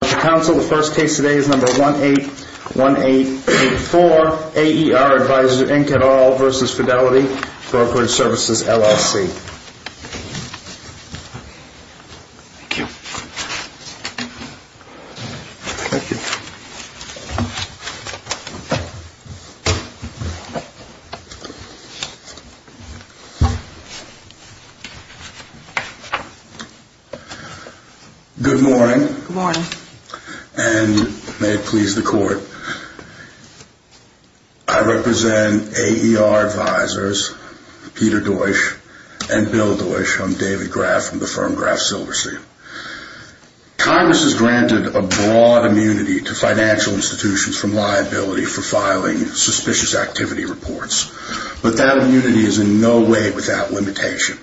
Council, the first case today is number 181884, AER Advisors Inc. v. Fidelity Brokerage Svcs., LLC Thank you Thank you Good morning, and may it please the court. I represent AER Advisors, Peter Deutch and Bill Deutch. I'm David Graff from the firm Graff Silverstein. Congress has granted a broad immunity to financial institutions from liability for filing suspicious activity reports, but that immunity is in no way without limitation.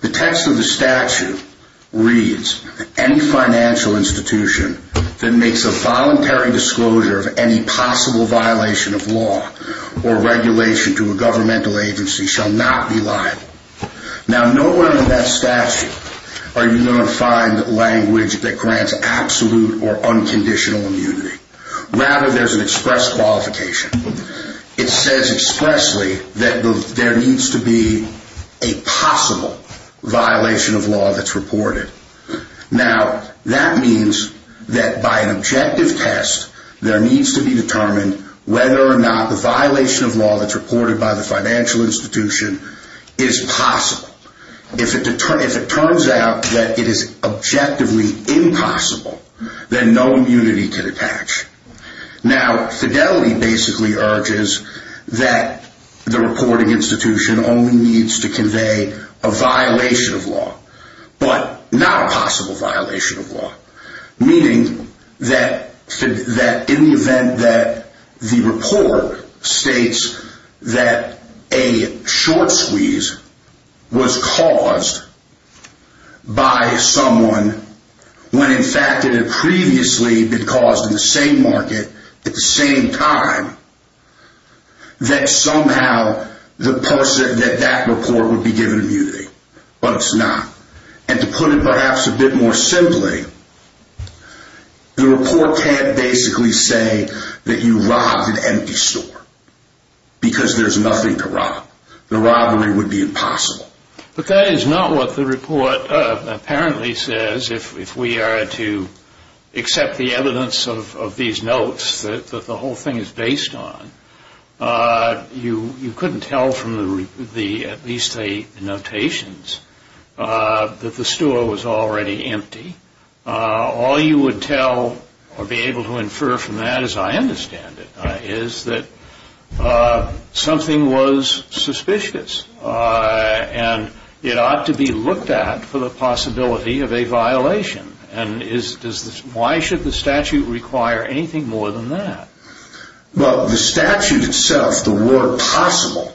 The text of the statute reads, any financial institution that makes a voluntary disclosure of any possible violation of law or regulation to a governmental agency shall not be liable. Now, nowhere in that statute are you going to find language that grants absolute or unconditional immunity. Rather, there's an express qualification. It says expressly that there needs to be a possible violation of law that's reported. Now, that means that by an objective test, there needs to be determined whether or not the violation of law that's reported by the financial institution is possible. If it turns out that it is objectively impossible, then no immunity can attach. Now, fidelity basically urges that the reporting institution only needs to convey a violation of law, but not a possible violation of law. Meaning that in the event that the report states that a short squeeze was caused by someone when in fact it had previously been caused in the same market at the same time, that somehow that report would be given immunity. But it's not. And to put it perhaps a bit more simply, the report can't basically say that you robbed an empty store because there's nothing to rob. The robbery would be impossible. But that is not what the report apparently says. If we are to accept the evidence of these notes that the whole thing is based on, you couldn't tell from at least the notations that the store was already empty. All you would tell or be able to infer from that, as I understand it, is that something was suspicious. And it ought to be looked at for the possibility of a violation. And why should the statute require anything more than that? Well, the statute itself, the word possible,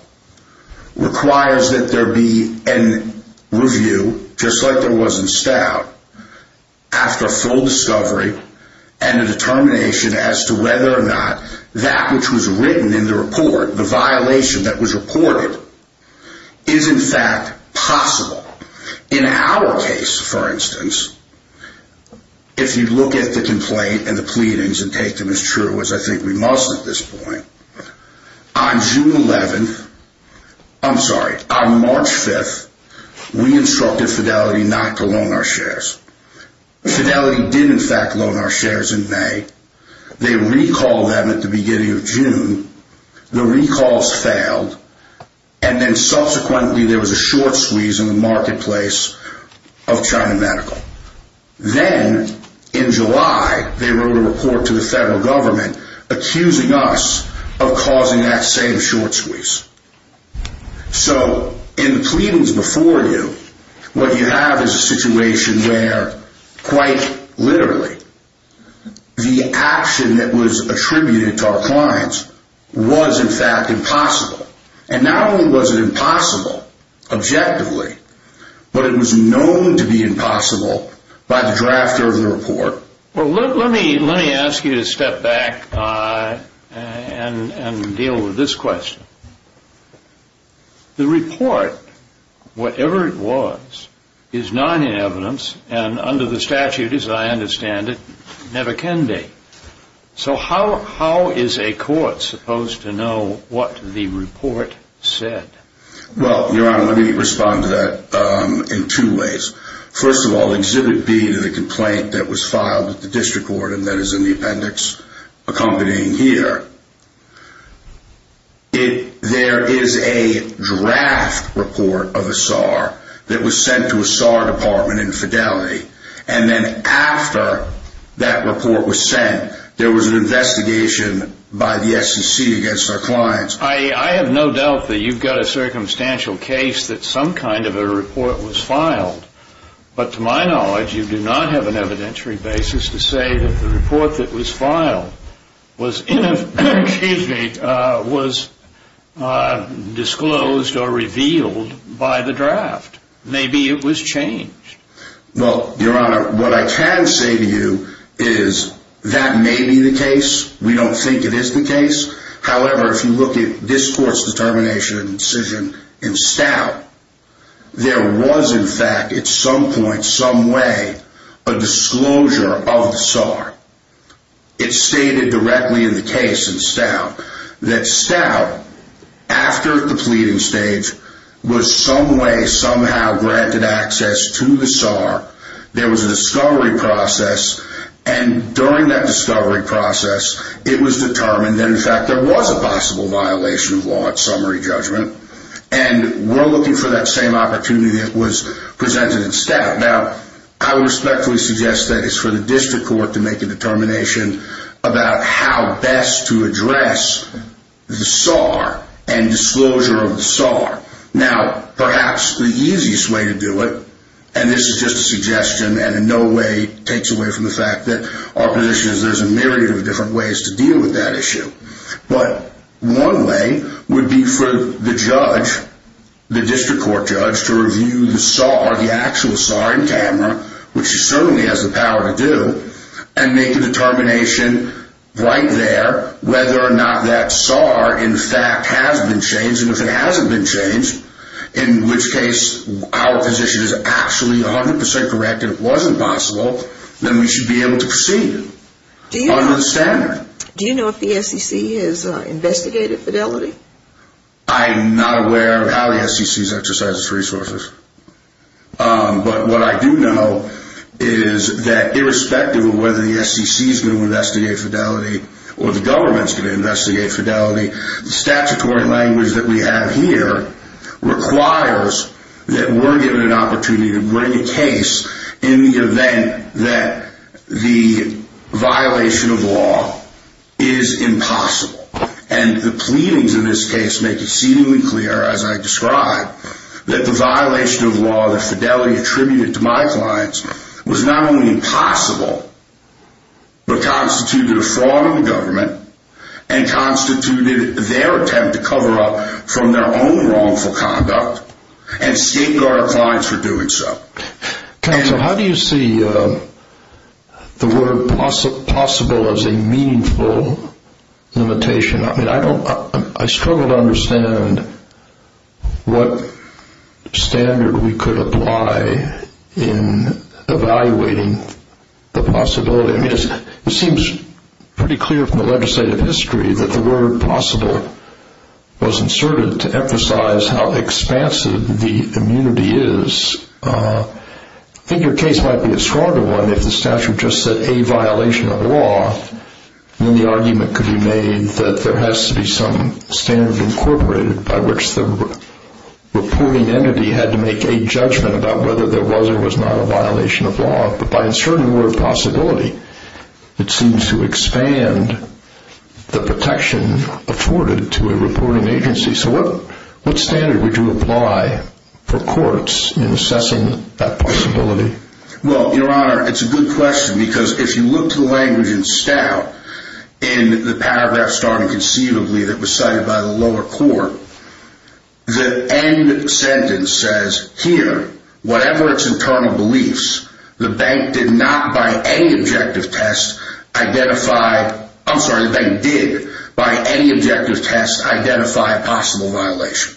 requires that there be a review, just like there was in Stout, after full discovery, and a determination as to whether or not that which was written in the report, the violation that was reported, is in fact possible. In our case, for instance, if you look at the complaint and the pleadings and take them as true, as I think we must at this point, on March 5th, we instructed Fidelity not to loan our shares. Fidelity did in fact loan our shares in May. They recalled them at the beginning of June. The recalls failed, and then subsequently there was a short squeeze in the marketplace of China Medical. Then, in July, they wrote a report to the federal government accusing us of causing that same short squeeze. So, in the pleadings before you, what you have is a situation where, quite literally, the action that was attributed to our clients was in fact impossible. And not only was it impossible, objectively, but it was known to be impossible by the drafter of the report. Well, let me ask you to step back and deal with this question. The report, whatever it was, is not in evidence, and under the statute, as I understand it, never can be. So how is a court supposed to know what the report said? Well, Your Honor, let me respond to that in two ways. First of all, Exhibit B, the complaint that was filed with the district court, and that is in the appendix accompanying here, there is a draft report of a SAR that was sent to a SAR department in Fidelity. And then after that report was sent, there was an investigation by the SEC against our clients. I have no doubt that you've got a circumstantial case that some kind of a report was filed. But to my knowledge, you do not have an evidentiary basis to say that the report that was filed was disclosed or revealed by the draft. Maybe it was changed. Well, Your Honor, what I can say to you is that may be the case. We don't think it is the case. However, if you look at this court's determination and decision in Stout, there was, in fact, at some point, some way, a disclosure of the SAR. It's stated directly in the case in Stout that Stout, after the pleading stage, was some way, somehow, granted access to the SAR. There was a discovery process. And during that discovery process, it was determined that, in fact, there was a possible violation of law at summary judgment. And we're looking for that same opportunity that was presented in Stout. Now, I would respectfully suggest that it's for the district court to make a determination about how best to address the SAR and disclosure of the SAR. Now, perhaps the easiest way to do it, and this is just a suggestion and in no way takes away from the fact that our position is there's a myriad of different ways to deal with that issue. But one way would be for the judge, the district court judge, to review the SAR, the actual SAR in camera, which it certainly has the power to do, and make a determination right there whether or not that SAR, in fact, has been changed. And if it hasn't been changed, in which case our position is actually 100% correct and it wasn't possible, then we should be able to proceed under the standard. Do you know if the SEC has investigated Fidelity? I'm not aware of how the SEC has exercised its resources. But what I do know is that irrespective of whether the SEC is going to investigate Fidelity or the government is going to investigate Fidelity, the statutory language that we have here requires that we're given an opportunity to bring a case in the event that the violation of law is impossible. And the pleadings in this case make exceedingly clear, as I described, that the violation of law that Fidelity attributed to my clients was not only impossible, but constituted a fraud on the government and constituted their attempt to cover up from their own wrongful conduct and state guard our clients for doing so. Counsel, how do you see the word possible as a meaningful limitation? I mean, I struggle to understand what standard we could apply in evaluating the possibility. It seems pretty clear from the legislative history that the word possible was inserted to emphasize how expansive the immunity is. I think your case might be a stronger one if the statute just said a violation of law. Then the argument could be made that there has to be some standard incorporated by which the reporting entity had to make a judgment about whether there was or was not a violation of law. But by inserting the word possibility, it seems to expand the protection afforded to a reporting agency. So what standard would you apply for courts in assessing that possibility? Well, your honor, it's a good question because if you look to the language in Stout, in the paragraph starting conceivably that was cited by the lower court, the end sentence says, here, whatever its internal beliefs, the bank did not by any objective test identify, I'm sorry, the bank did by any objective test identify a possible violation.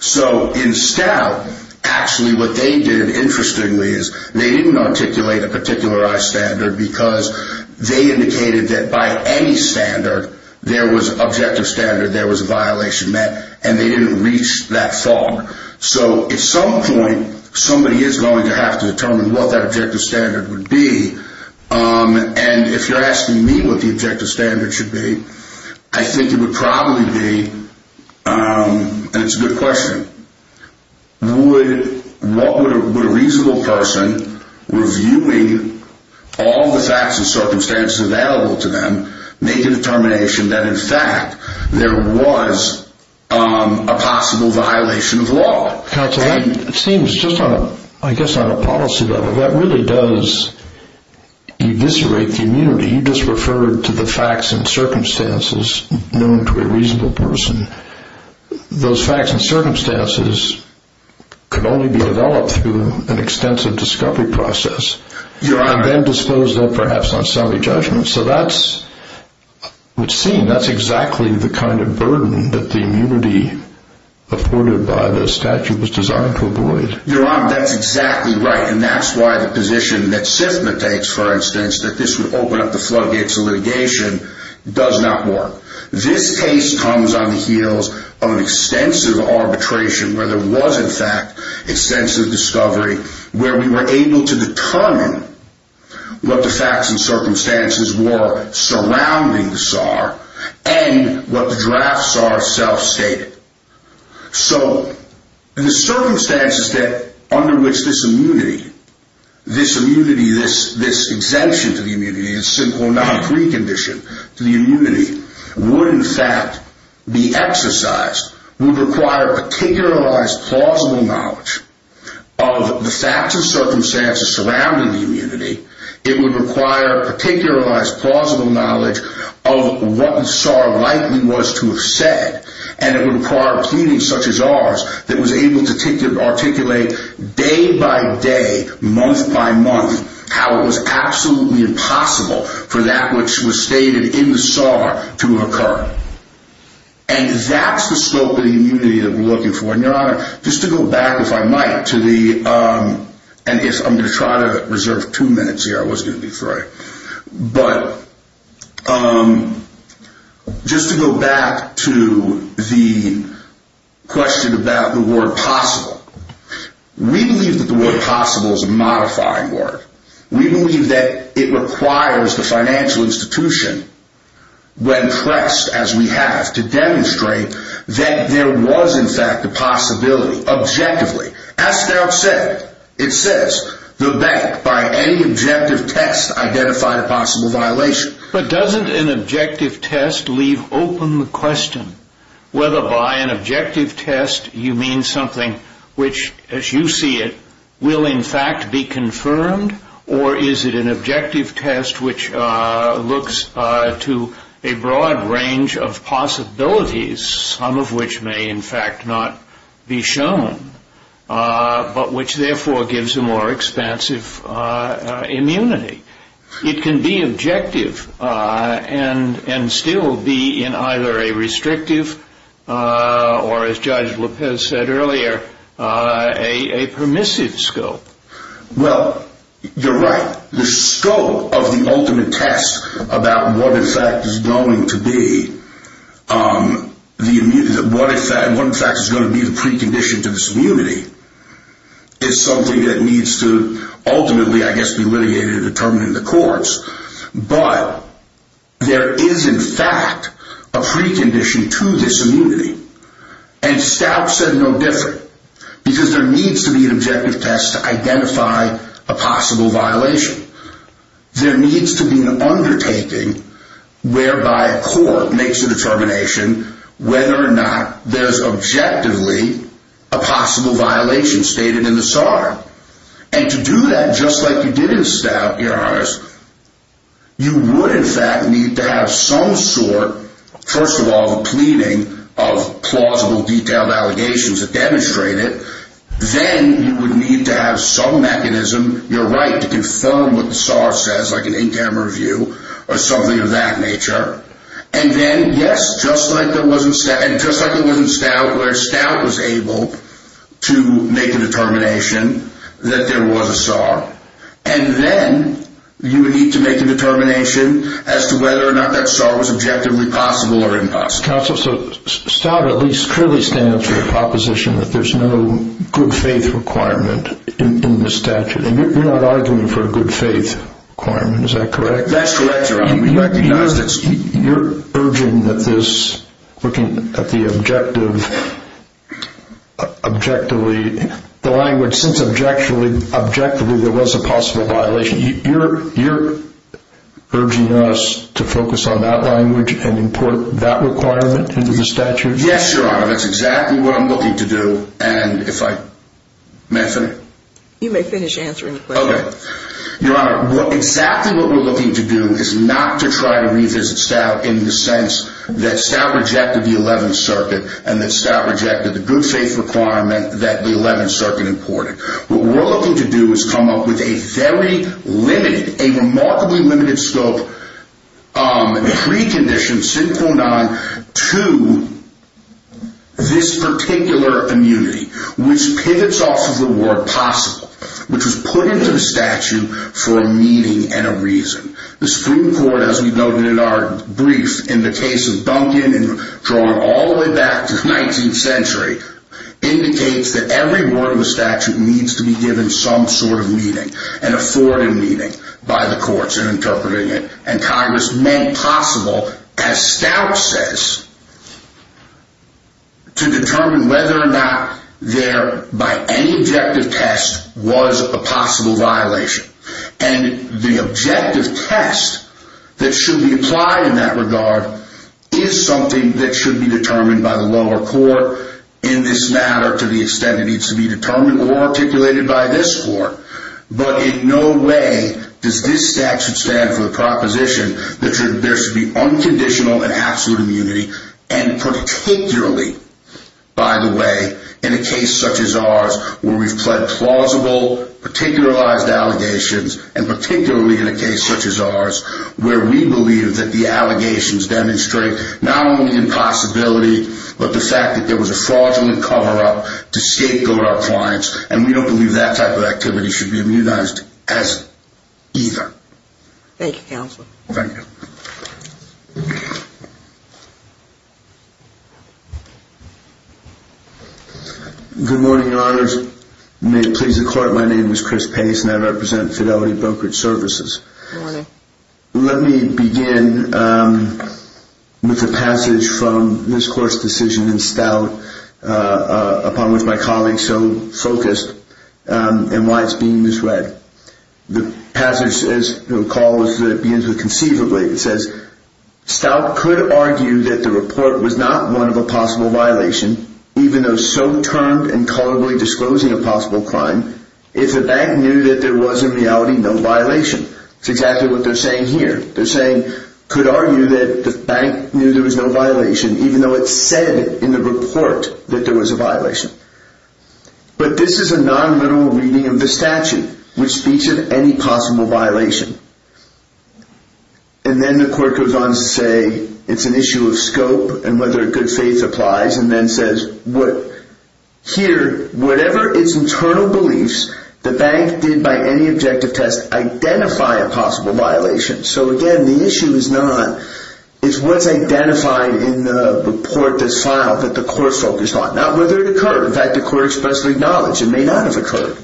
So in Stout, actually what they did interestingly is they didn't articulate a particularized standard because they indicated that by any standard, there was an objective standard, there was a violation met, and they didn't reach that thought. So at some point, somebody is going to have to determine what that objective standard would be. And if you're asking me what the objective standard should be, I think it would probably be, and it's a good question, would a reasonable person reviewing all the facts and circumstances available to them make a determination that in fact there was a possible violation of law? Counsel, that seems, I guess on a policy level, that really does eviscerate the immunity. You just referred to the facts and circumstances known to a reasonable person. Those facts and circumstances could only be developed through an extensive discovery process. Your honor. And then disposed of perhaps on solid judgment. So that's what's seen. That's exactly the kind of burden that the immunity afforded by the statute was designed to avoid. Your honor, that's exactly right. And that's why the position that SIFMA takes, for instance, that this would open up the floodgates of litigation, does not work. This case comes on the heels of an extensive arbitration where there was in fact extensive discovery where we were able to determine what the facts and circumstances were surrounding the SAR and what the draft SAR itself stated. So, the circumstances under which this immunity, this immunity, this exemption to the immunity, this synchronic recondition to the immunity, would in fact be exercised, would require particularized plausible knowledge of the facts and circumstances surrounding the immunity. It would require particularized plausible knowledge of what the SAR likely was to have said. And it would require a committee such as ours that was able to articulate day by day, month by month, how it was absolutely impossible for that which was stated in the SAR to occur. And that's the scope of the immunity that we're looking for. And your honor, just to go back if I might to the, and I'm going to try to reserve two minutes here, I was going to do three. But, just to go back to the question about the word possible. We believe that the word possible is a modifying word. We believe that it requires the financial institution, when pressed as we have, to demonstrate that there was in fact a possibility, objectively. As Starr said, it says, the bank by any objective test identified a possible violation. But doesn't an objective test leave open the question whether by an objective test you mean something which as you see it, will in fact be confirmed or is it an objective test which looks to a broad range of possibilities, some of which may in fact not be shown, but which therefore gives a more expansive immunity. It can be objective and still be in either a restrictive or as Judge Lopez said earlier, a permissive scope. Well, you're right. The scope of the ultimate test about what in fact is going to be the precondition to this immunity is something that needs to ultimately, I guess, be litigated and determined in the courts. But, there is in fact a precondition to this immunity. And Stout said no different. Because there needs to be an objective test to identify a possible violation. There needs to be an undertaking whereby a court makes a determination whether or not there's objectively a possible violation stated in the SAR. And to do that just like you did in Stout, Your Honor, you would in fact need to have some sort, first of all, a pleading of plausible detailed allegations that demonstrate it. Then, you would need to have some mechanism, you're right, to confirm what the SAR says, like an interim review or something of that nature. And then, yes, just like it was in Stout where Stout was able to make a determination that there was a SAR. And then, you would need to make a determination as to whether or not that SAR was objectively possible or impossible. Mr. Counsel, Stout at least clearly stands for the proposition that there's no good faith requirement in the statute. And you're not arguing for a good faith requirement, is that correct? That's correct, Your Honor. You're urging that this, looking at the objective, objectively, the language, since objectively there was a possible violation, you're urging us to focus on that language and import that requirement into the statute? Yes, Your Honor, that's exactly what I'm looking to do. And if I, may I finish? You may finish answering the question. Okay. Your Honor, exactly what we're looking to do is not to try to revisit Stout in the sense that Stout rejected the Eleventh Circuit and that Stout rejected the good faith requirement that the Eleventh Circuit imported. What we're looking to do is come up with a very limited, a remarkably limited scope precondition, SIN 0.9, to this particular immunity, which pivots off of the word possible, which was put into the statute for a meaning and a reason. The Supreme Court, as we noted in our brief in the case of Duncan and drawn all the way back to the 19th century, indicates that every word of the statute needs to be given some sort of meaning, an authoritative meaning by the courts in interpreting it. And Congress made possible, as Stout says, to determine whether or not there, by any objective test, was a possible violation. And the objective test that should be applied in that regard is something that should be determined by the lower court in this matter, to the extent it needs to be determined or articulated by this court. But in no way does this statute stand for the proposition that there should be unconditional and absolute immunity, and particularly, by the way, in a case such as ours where we've pled plausible, particularized allegations, and particularly in a case such as ours where we believe that the allegations demonstrate not only impossibility, but the fact that there was a fraudulent cover-up to scapegoat our clients, and we don't believe that type of activity should be immunized as either. Thank you, Counselor. Thank you. Good morning, Your Honors. May it please the Court, my name is Chris Pace, and I represent Fidelity Brokerage Services. Good morning. Let me begin with a passage from this Court's decision in Stout, upon which my colleagues so focused, and why it's being misread. The passage, as you'll recall, is that it begins with conceivably. It says, Stout could argue that the report was not one of a possible violation, even though so termed and colorably disclosing a possible crime, if the bank knew that there was in reality no violation. It's exactly what they're saying here. They're saying, could argue that the bank knew there was no violation, even though it said in the report that there was a violation. But this is a non-mineral reading of the statute, which speaks of any possible violation. And then the Court goes on to say, it's an issue of scope and whether good faith applies, and then says, here, whatever its internal beliefs, the bank did by any objective test, identify a possible violation. So again, the issue is not, it's what's identified in the report that's filed that the Court focused on. Not whether it occurred. In fact, the Court expressly acknowledged it may not have occurred.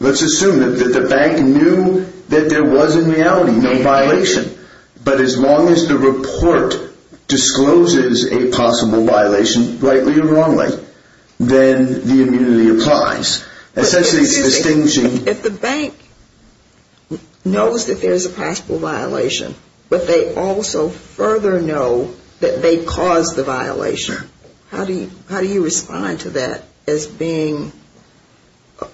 Let's assume that the bank knew that there was in reality no violation. But as long as the report discloses a possible violation, rightly or wrongly, then the immunity applies. Essentially, it's distinguishing. But if the bank knows that there's a possible violation, but they also further know that they caused the violation, How do you respond to that as being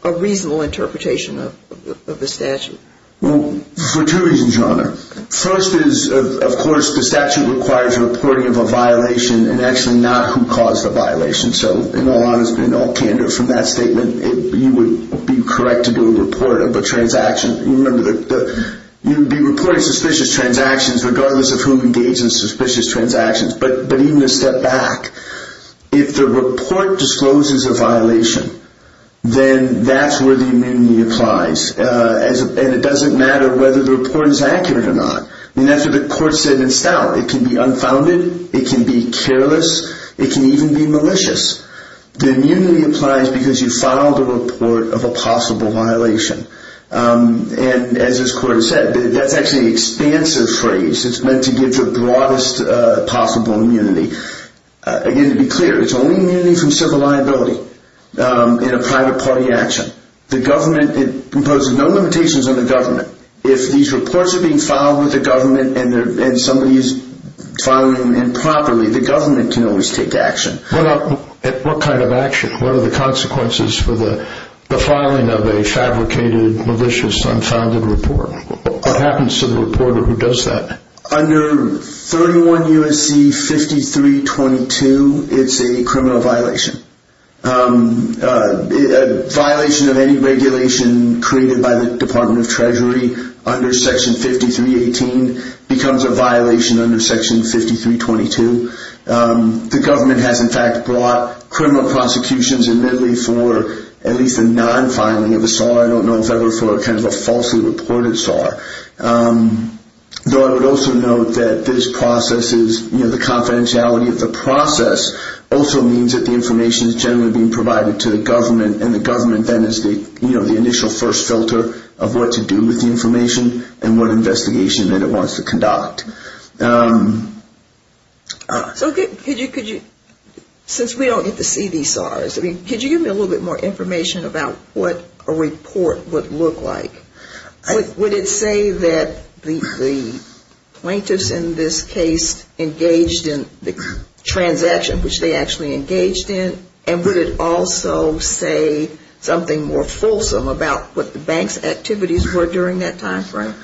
a reasonable interpretation of the statute? Well, for two reasons, Your Honor. First is, of course, the statute requires reporting of a violation and actually not who caused the violation. So in all honesty and all candor from that statement, you would be correct to do a report of a transaction. Remember, you would be reporting suspicious transactions regardless of who engaged in suspicious transactions. But even a step back, if the report discloses a violation, then that's where the immunity applies. And it doesn't matter whether the report is accurate or not. And that's what the Court said in style. It can be unfounded. It can be careless. It can even be malicious. The immunity applies because you filed a report of a possible violation. And as this Court said, that's actually an expansive phrase. It's meant to give the broadest possible immunity. Again, to be clear, it's only immunity from civil liability in a private party action. The government, it imposes no limitations on the government. If these reports are being filed with the government and somebody is filing them improperly, the government can always take action. What kind of action? What are the consequences for the filing of a fabricated, malicious, unfounded report? What happens to the reporter who does that? Under 31 U.S.C. 5322, it's a criminal violation. A violation of any regulation created by the Department of Treasury under Section 5318 becomes a violation under Section 5322. The government has, in fact, brought criminal prosecutions, admittedly, for at least a non-filing of a sort. I don't know if that were for a falsely reported SAR. Though I would also note that this process is, you know, the confidentiality of the process also means that the information is generally being provided to the government, and the government then is the initial first filter of what to do with the information and what investigation it wants to conduct. So could you, since we don't get to see these SARs, I mean, could you give me a little bit more information about what a report would look like? Would it say that the plaintiffs in this case engaged in the transaction which they actually engaged in? And would it also say something more fulsome about what the bank's activities were during that time frame?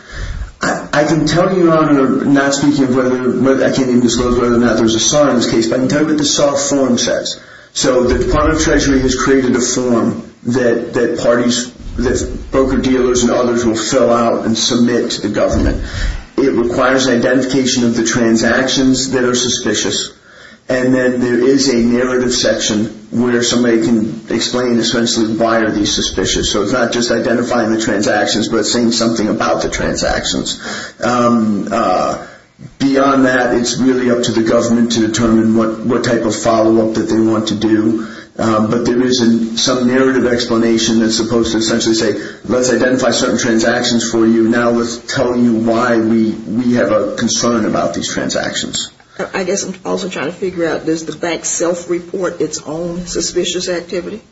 I can tell you, Your Honor, not speaking of whether, I can't even disclose whether or not there's a SAR in this case, but I can tell you what the SAR form says. So the Department of Treasury has created a form that parties, that broker-dealers and others will fill out and submit to the government. It requires identification of the transactions that are suspicious, and then there is a narrative section where somebody can explain essentially why are these suspicious. So it's not just identifying the transactions, but it's saying something about the transactions. Beyond that, it's really up to the government to determine what type of follow-up that they want to do. But there is some narrative explanation that's supposed to essentially say, let's identify certain transactions for you, now let's tell you why we have a concern about these transactions. I guess I'm also trying to figure out, does the bank self-report its own suspicious activity?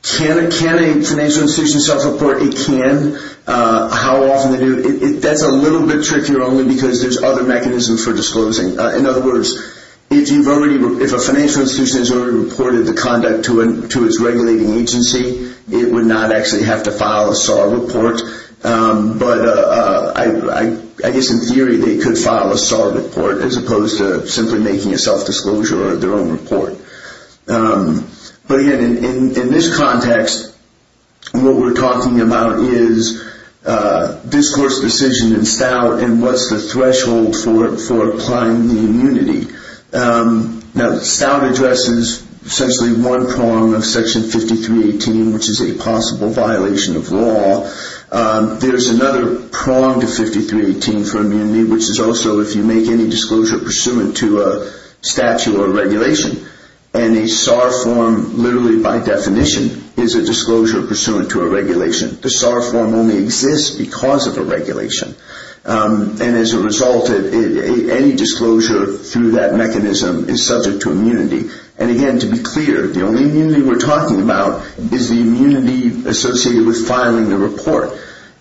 Can a financial institution self-report it can? How often do they do it? That's a little bit trickier only because there's other mechanisms for disclosing. In other words, if a financial institution has already reported the conduct to its regulating agency, it would not actually have to file a SAR report. But I guess in theory they could file a SAR report as opposed to simply making a self-disclosure or their own report. But again, in this context, what we're talking about is this court's decision in Stout and what's the threshold for applying the immunity. Now Stout addresses essentially one prong of Section 5318, which is a possible violation of law. There's another prong to 5318 for immunity, which is also if you make any disclosure pursuant to a statute or regulation. And a SAR form, literally by definition, is a disclosure pursuant to a regulation. The SAR form only exists because of a regulation. And as a result, any disclosure through that mechanism is subject to immunity. And again, to be clear, the only immunity we're talking about is the immunity associated with filing the report.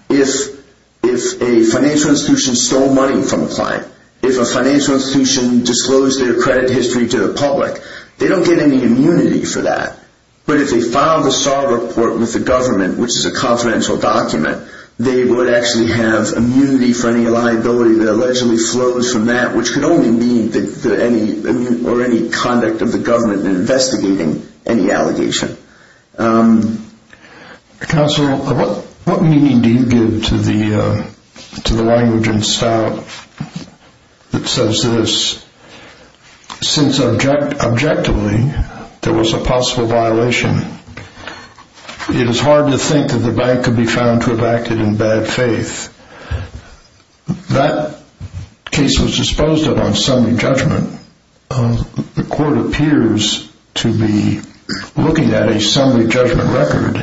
If a financial institution stole money from a client, if a financial institution disclosed their credit history to the public, they don't get any immunity for that. But if they filed a SAR report with the government, which is a confidential document, they would actually have immunity for any liability that allegedly flows from that, which could only mean any conduct of the government in investigating any allegation. Counselor, what meaning do you give to the language in Stout that says this? Since objectively there was a possible violation, it is hard to think that the bank could be found to have acted in bad faith. That case was disposed of on summary judgment. The court appears to be looking at a summary judgment record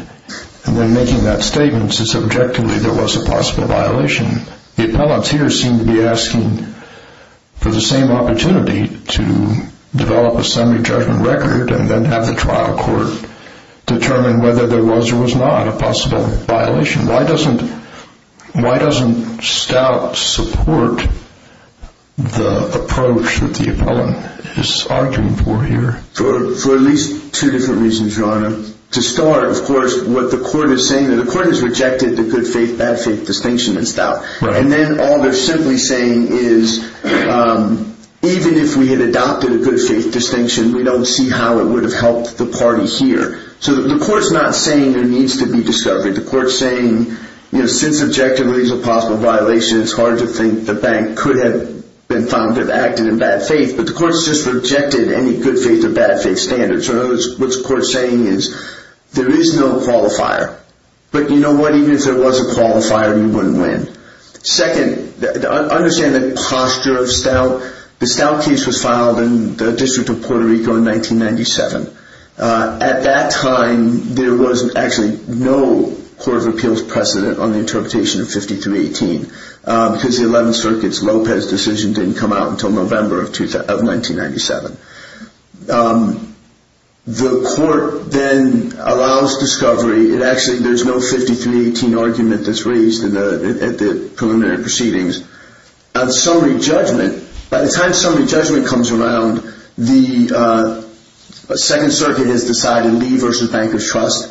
and then making that statement since objectively there was a possible violation. The appellants here seem to be asking for the same opportunity to develop a summary judgment record and then have the trial court determine whether there was or was not a possible violation. Why doesn't Stout support the approach that the appellant is arguing for here? To start, of course, what the court is saying, the court has rejected the good faith, bad faith distinction in Stout. And then all they're simply saying is even if we had adopted a good faith distinction, we don't see how it would have helped the party here. So the court's not saying there needs to be discovery. The court's saying since objectively there's a possible violation, it's hard to think the bank could have been found to have acted in bad faith. But the court's just rejected any good faith or bad faith standards. What the court's saying is there is no qualifier. But you know what, even if there was a qualifier, you wouldn't win. Second, understand the posture of Stout. The Stout case was filed in the District of Puerto Rico in 1997. At that time, there was actually no Court of Appeals precedent on the interpretation of 5318 because the 11th Circuit's Lopez decision didn't come out until November of 1997. The court then allows discovery. Actually, there's no 5318 argument that's raised at the preliminary proceedings. On summary judgment, by the time summary judgment comes around, the Second Circuit has decided Lee v. Bankers Trust.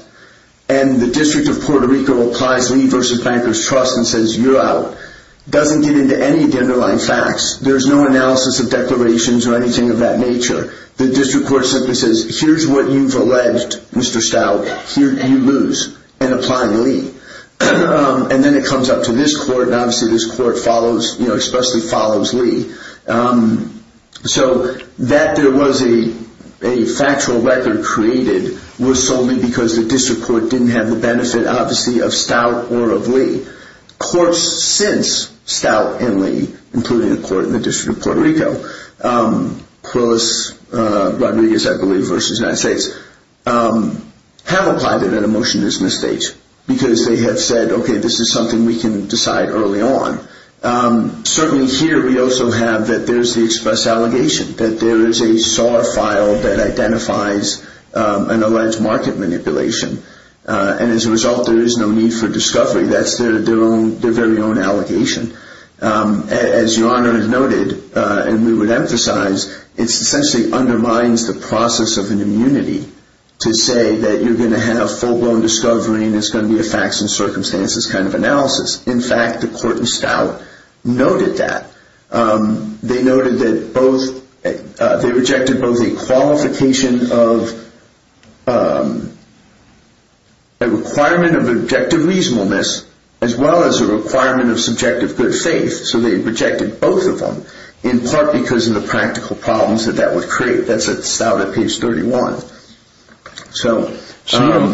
And the District of Puerto Rico applies Lee v. Bankers Trust and says you're out. It doesn't get into any of the underlying facts. There's no analysis of declarations or anything of that nature. The District Court simply says here's what you've alleged, Mr. Stout. You lose in applying Lee. And then it comes up to this court, and obviously this court follows, you know, expressly follows Lee. So that there was a factual record created was solely because the District Court didn't have the benefit, obviously, of Stout or of Lee. Courts since Stout and Lee, including the court in the District of Puerto Rico, Quillis Rodriguez, I believe, v. United States, have applied it at a motionless stage because they have said, okay, this is something we can decide early on. Certainly here we also have that there's the express allegation, that there is a SAR file that identifies an alleged market manipulation. And as a result, there is no need for discovery. That's their very own allegation. As Your Honor noted, and we would emphasize, it essentially undermines the process of an immunity to say that you're going to have full-blown discovery and it's going to be a facts and circumstances kind of analysis. In fact, the court in Stout noted that. They noted that they rejected both a qualification of a requirement of objective reasonableness, as well as a requirement of subjective good faith. So they rejected both of them, in part because of the practical problems that that would create. That's at Stout at page 31. So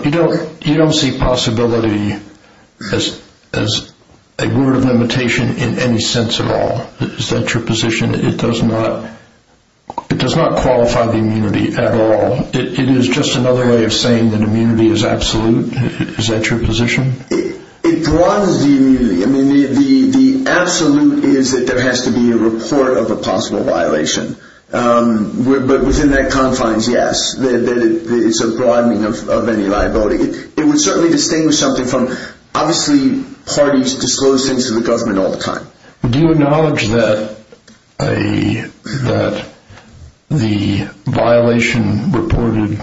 you don't see possibility as a word of limitation in any sense at all. Is that your position? It does not qualify the immunity at all. It is just another way of saying that immunity is absolute. Is that your position? It broadens the immunity. The absolute is that there has to be a report of a possible violation. But within that confines, yes. It's a broadening of any liability. It would certainly distinguish something from, obviously, parties disclose things to the government all the time. Do you acknowledge that the violation reported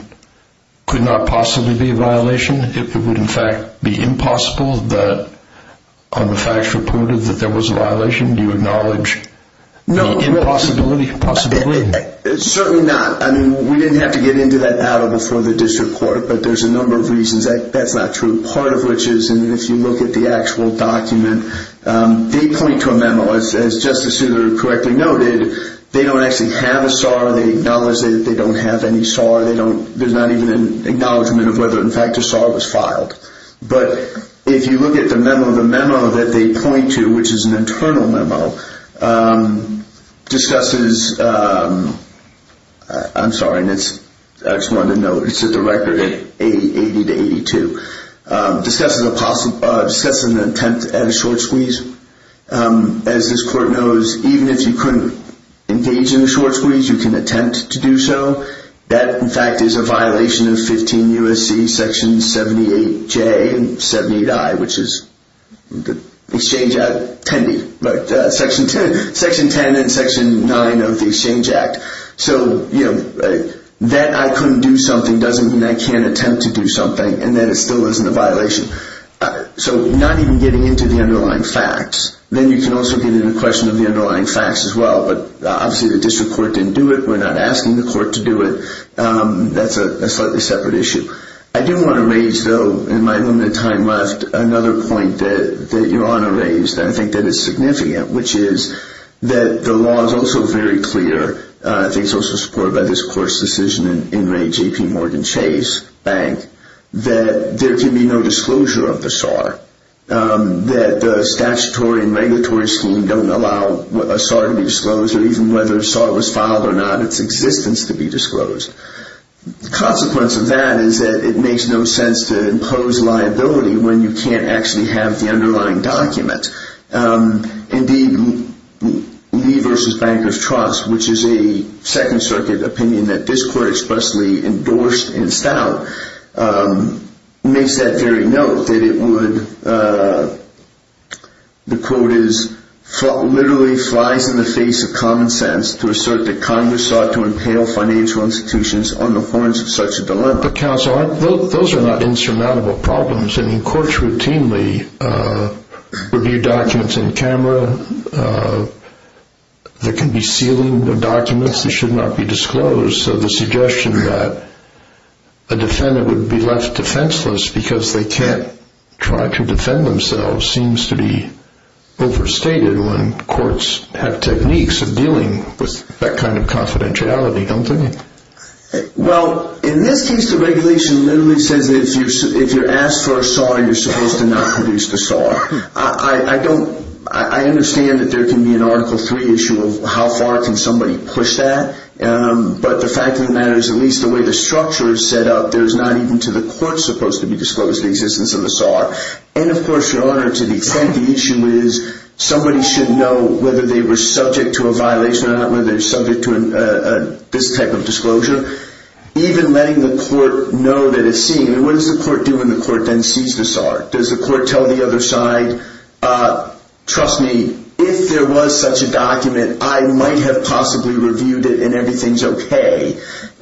could not possibly be a violation? It would, in fact, be impossible that on the facts reported that there was a violation? Do you acknowledge the impossibility? Certainly not. We didn't have to get into that battle before the district court, but there's a number of reasons that that's not true. Part of which is if you look at the actual document, they point to a memo. As Justice Souter correctly noted, they don't actually have a SAR. They acknowledge that they don't have any SAR. There's not even an acknowledgment of whether, in fact, a SAR was filed. But if you look at the memo, the memo that they point to, which is an internal memo, discusses, I'm sorry, I just wanted to note, it's at the record, 80 to 82, discusses an attempt at a short squeeze. As this court knows, even if you couldn't engage in a short squeeze, you can attempt to do so. That, in fact, is a violation of 15 U.S.C. Section 78J and 78I, which is the Exchange Act, Section 10 and Section 9 of the Exchange Act. So, you know, that I couldn't do something doesn't mean I can't attempt to do something, and that it still isn't a violation. So not even getting into the underlying facts. Then you can also get into the question of the underlying facts as well, but obviously the district court didn't do it. We're not asking the court to do it. That's a slightly separate issue. I do want to raise, though, in my limited time left, another point that Your Honor raised, and I think that it's significant, which is that the law is also very clear, I think it's also supported by this court's decision in Ray J.P. Morgan Chase Bank, that there can be no disclosure of the SAR, that the statutory and regulatory scheme don't allow a SAR to be disclosed, or even whether a SAR was filed or not, its existence to be disclosed. The consequence of that is that it makes no sense to impose liability when you can't actually have the underlying document. Indeed, Lee v. Bankers Trust, which is a Second Circuit opinion that this court expressly endorsed in Stout, makes that very note, that it would, the quote is, literally flies in the face of common sense to assert that Congress ought to impale financial institutions on the horns of such a dilemma. Those are not insurmountable problems. Courts routinely review documents on camera that can be sealing documents that should not be disclosed, so the suggestion that a defendant would be left defenseless because they can't try to defend themselves seems to be overstated when courts have techniques of dealing with that kind of confidentiality, don't they? Well, in this case, the regulation literally says that if you're asked for a SAR, you're supposed to not produce the SAR. I don't, I understand that there can be an Article 3 issue of how far can somebody push that, but the fact of the matter is at least the way the structure is set up, there's not even to the court supposed to be disclosed the existence of the SAR. And of course, Your Honor, to the extent the issue is somebody should know whether they were subject to a violation or not whether they're subject to this type of disclosure, even letting the court know that it's seen, what does the court do when the court then sees the SAR? Does the court tell the other side, trust me, if there was such a document, I might have possibly reviewed it and everything's okay?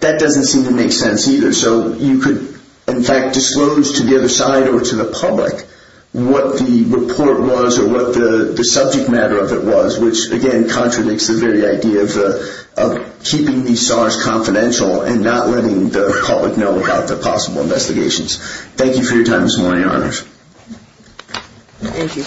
That doesn't seem to make sense either. So you could, in fact, disclose to the other side or to the public what the report was or what the subject matter of it was, which, again, contradicts the very idea of keeping these SARs confidential and not letting the public know about the possible investigations. Thank you for your time this morning, Your Honors. Thank you.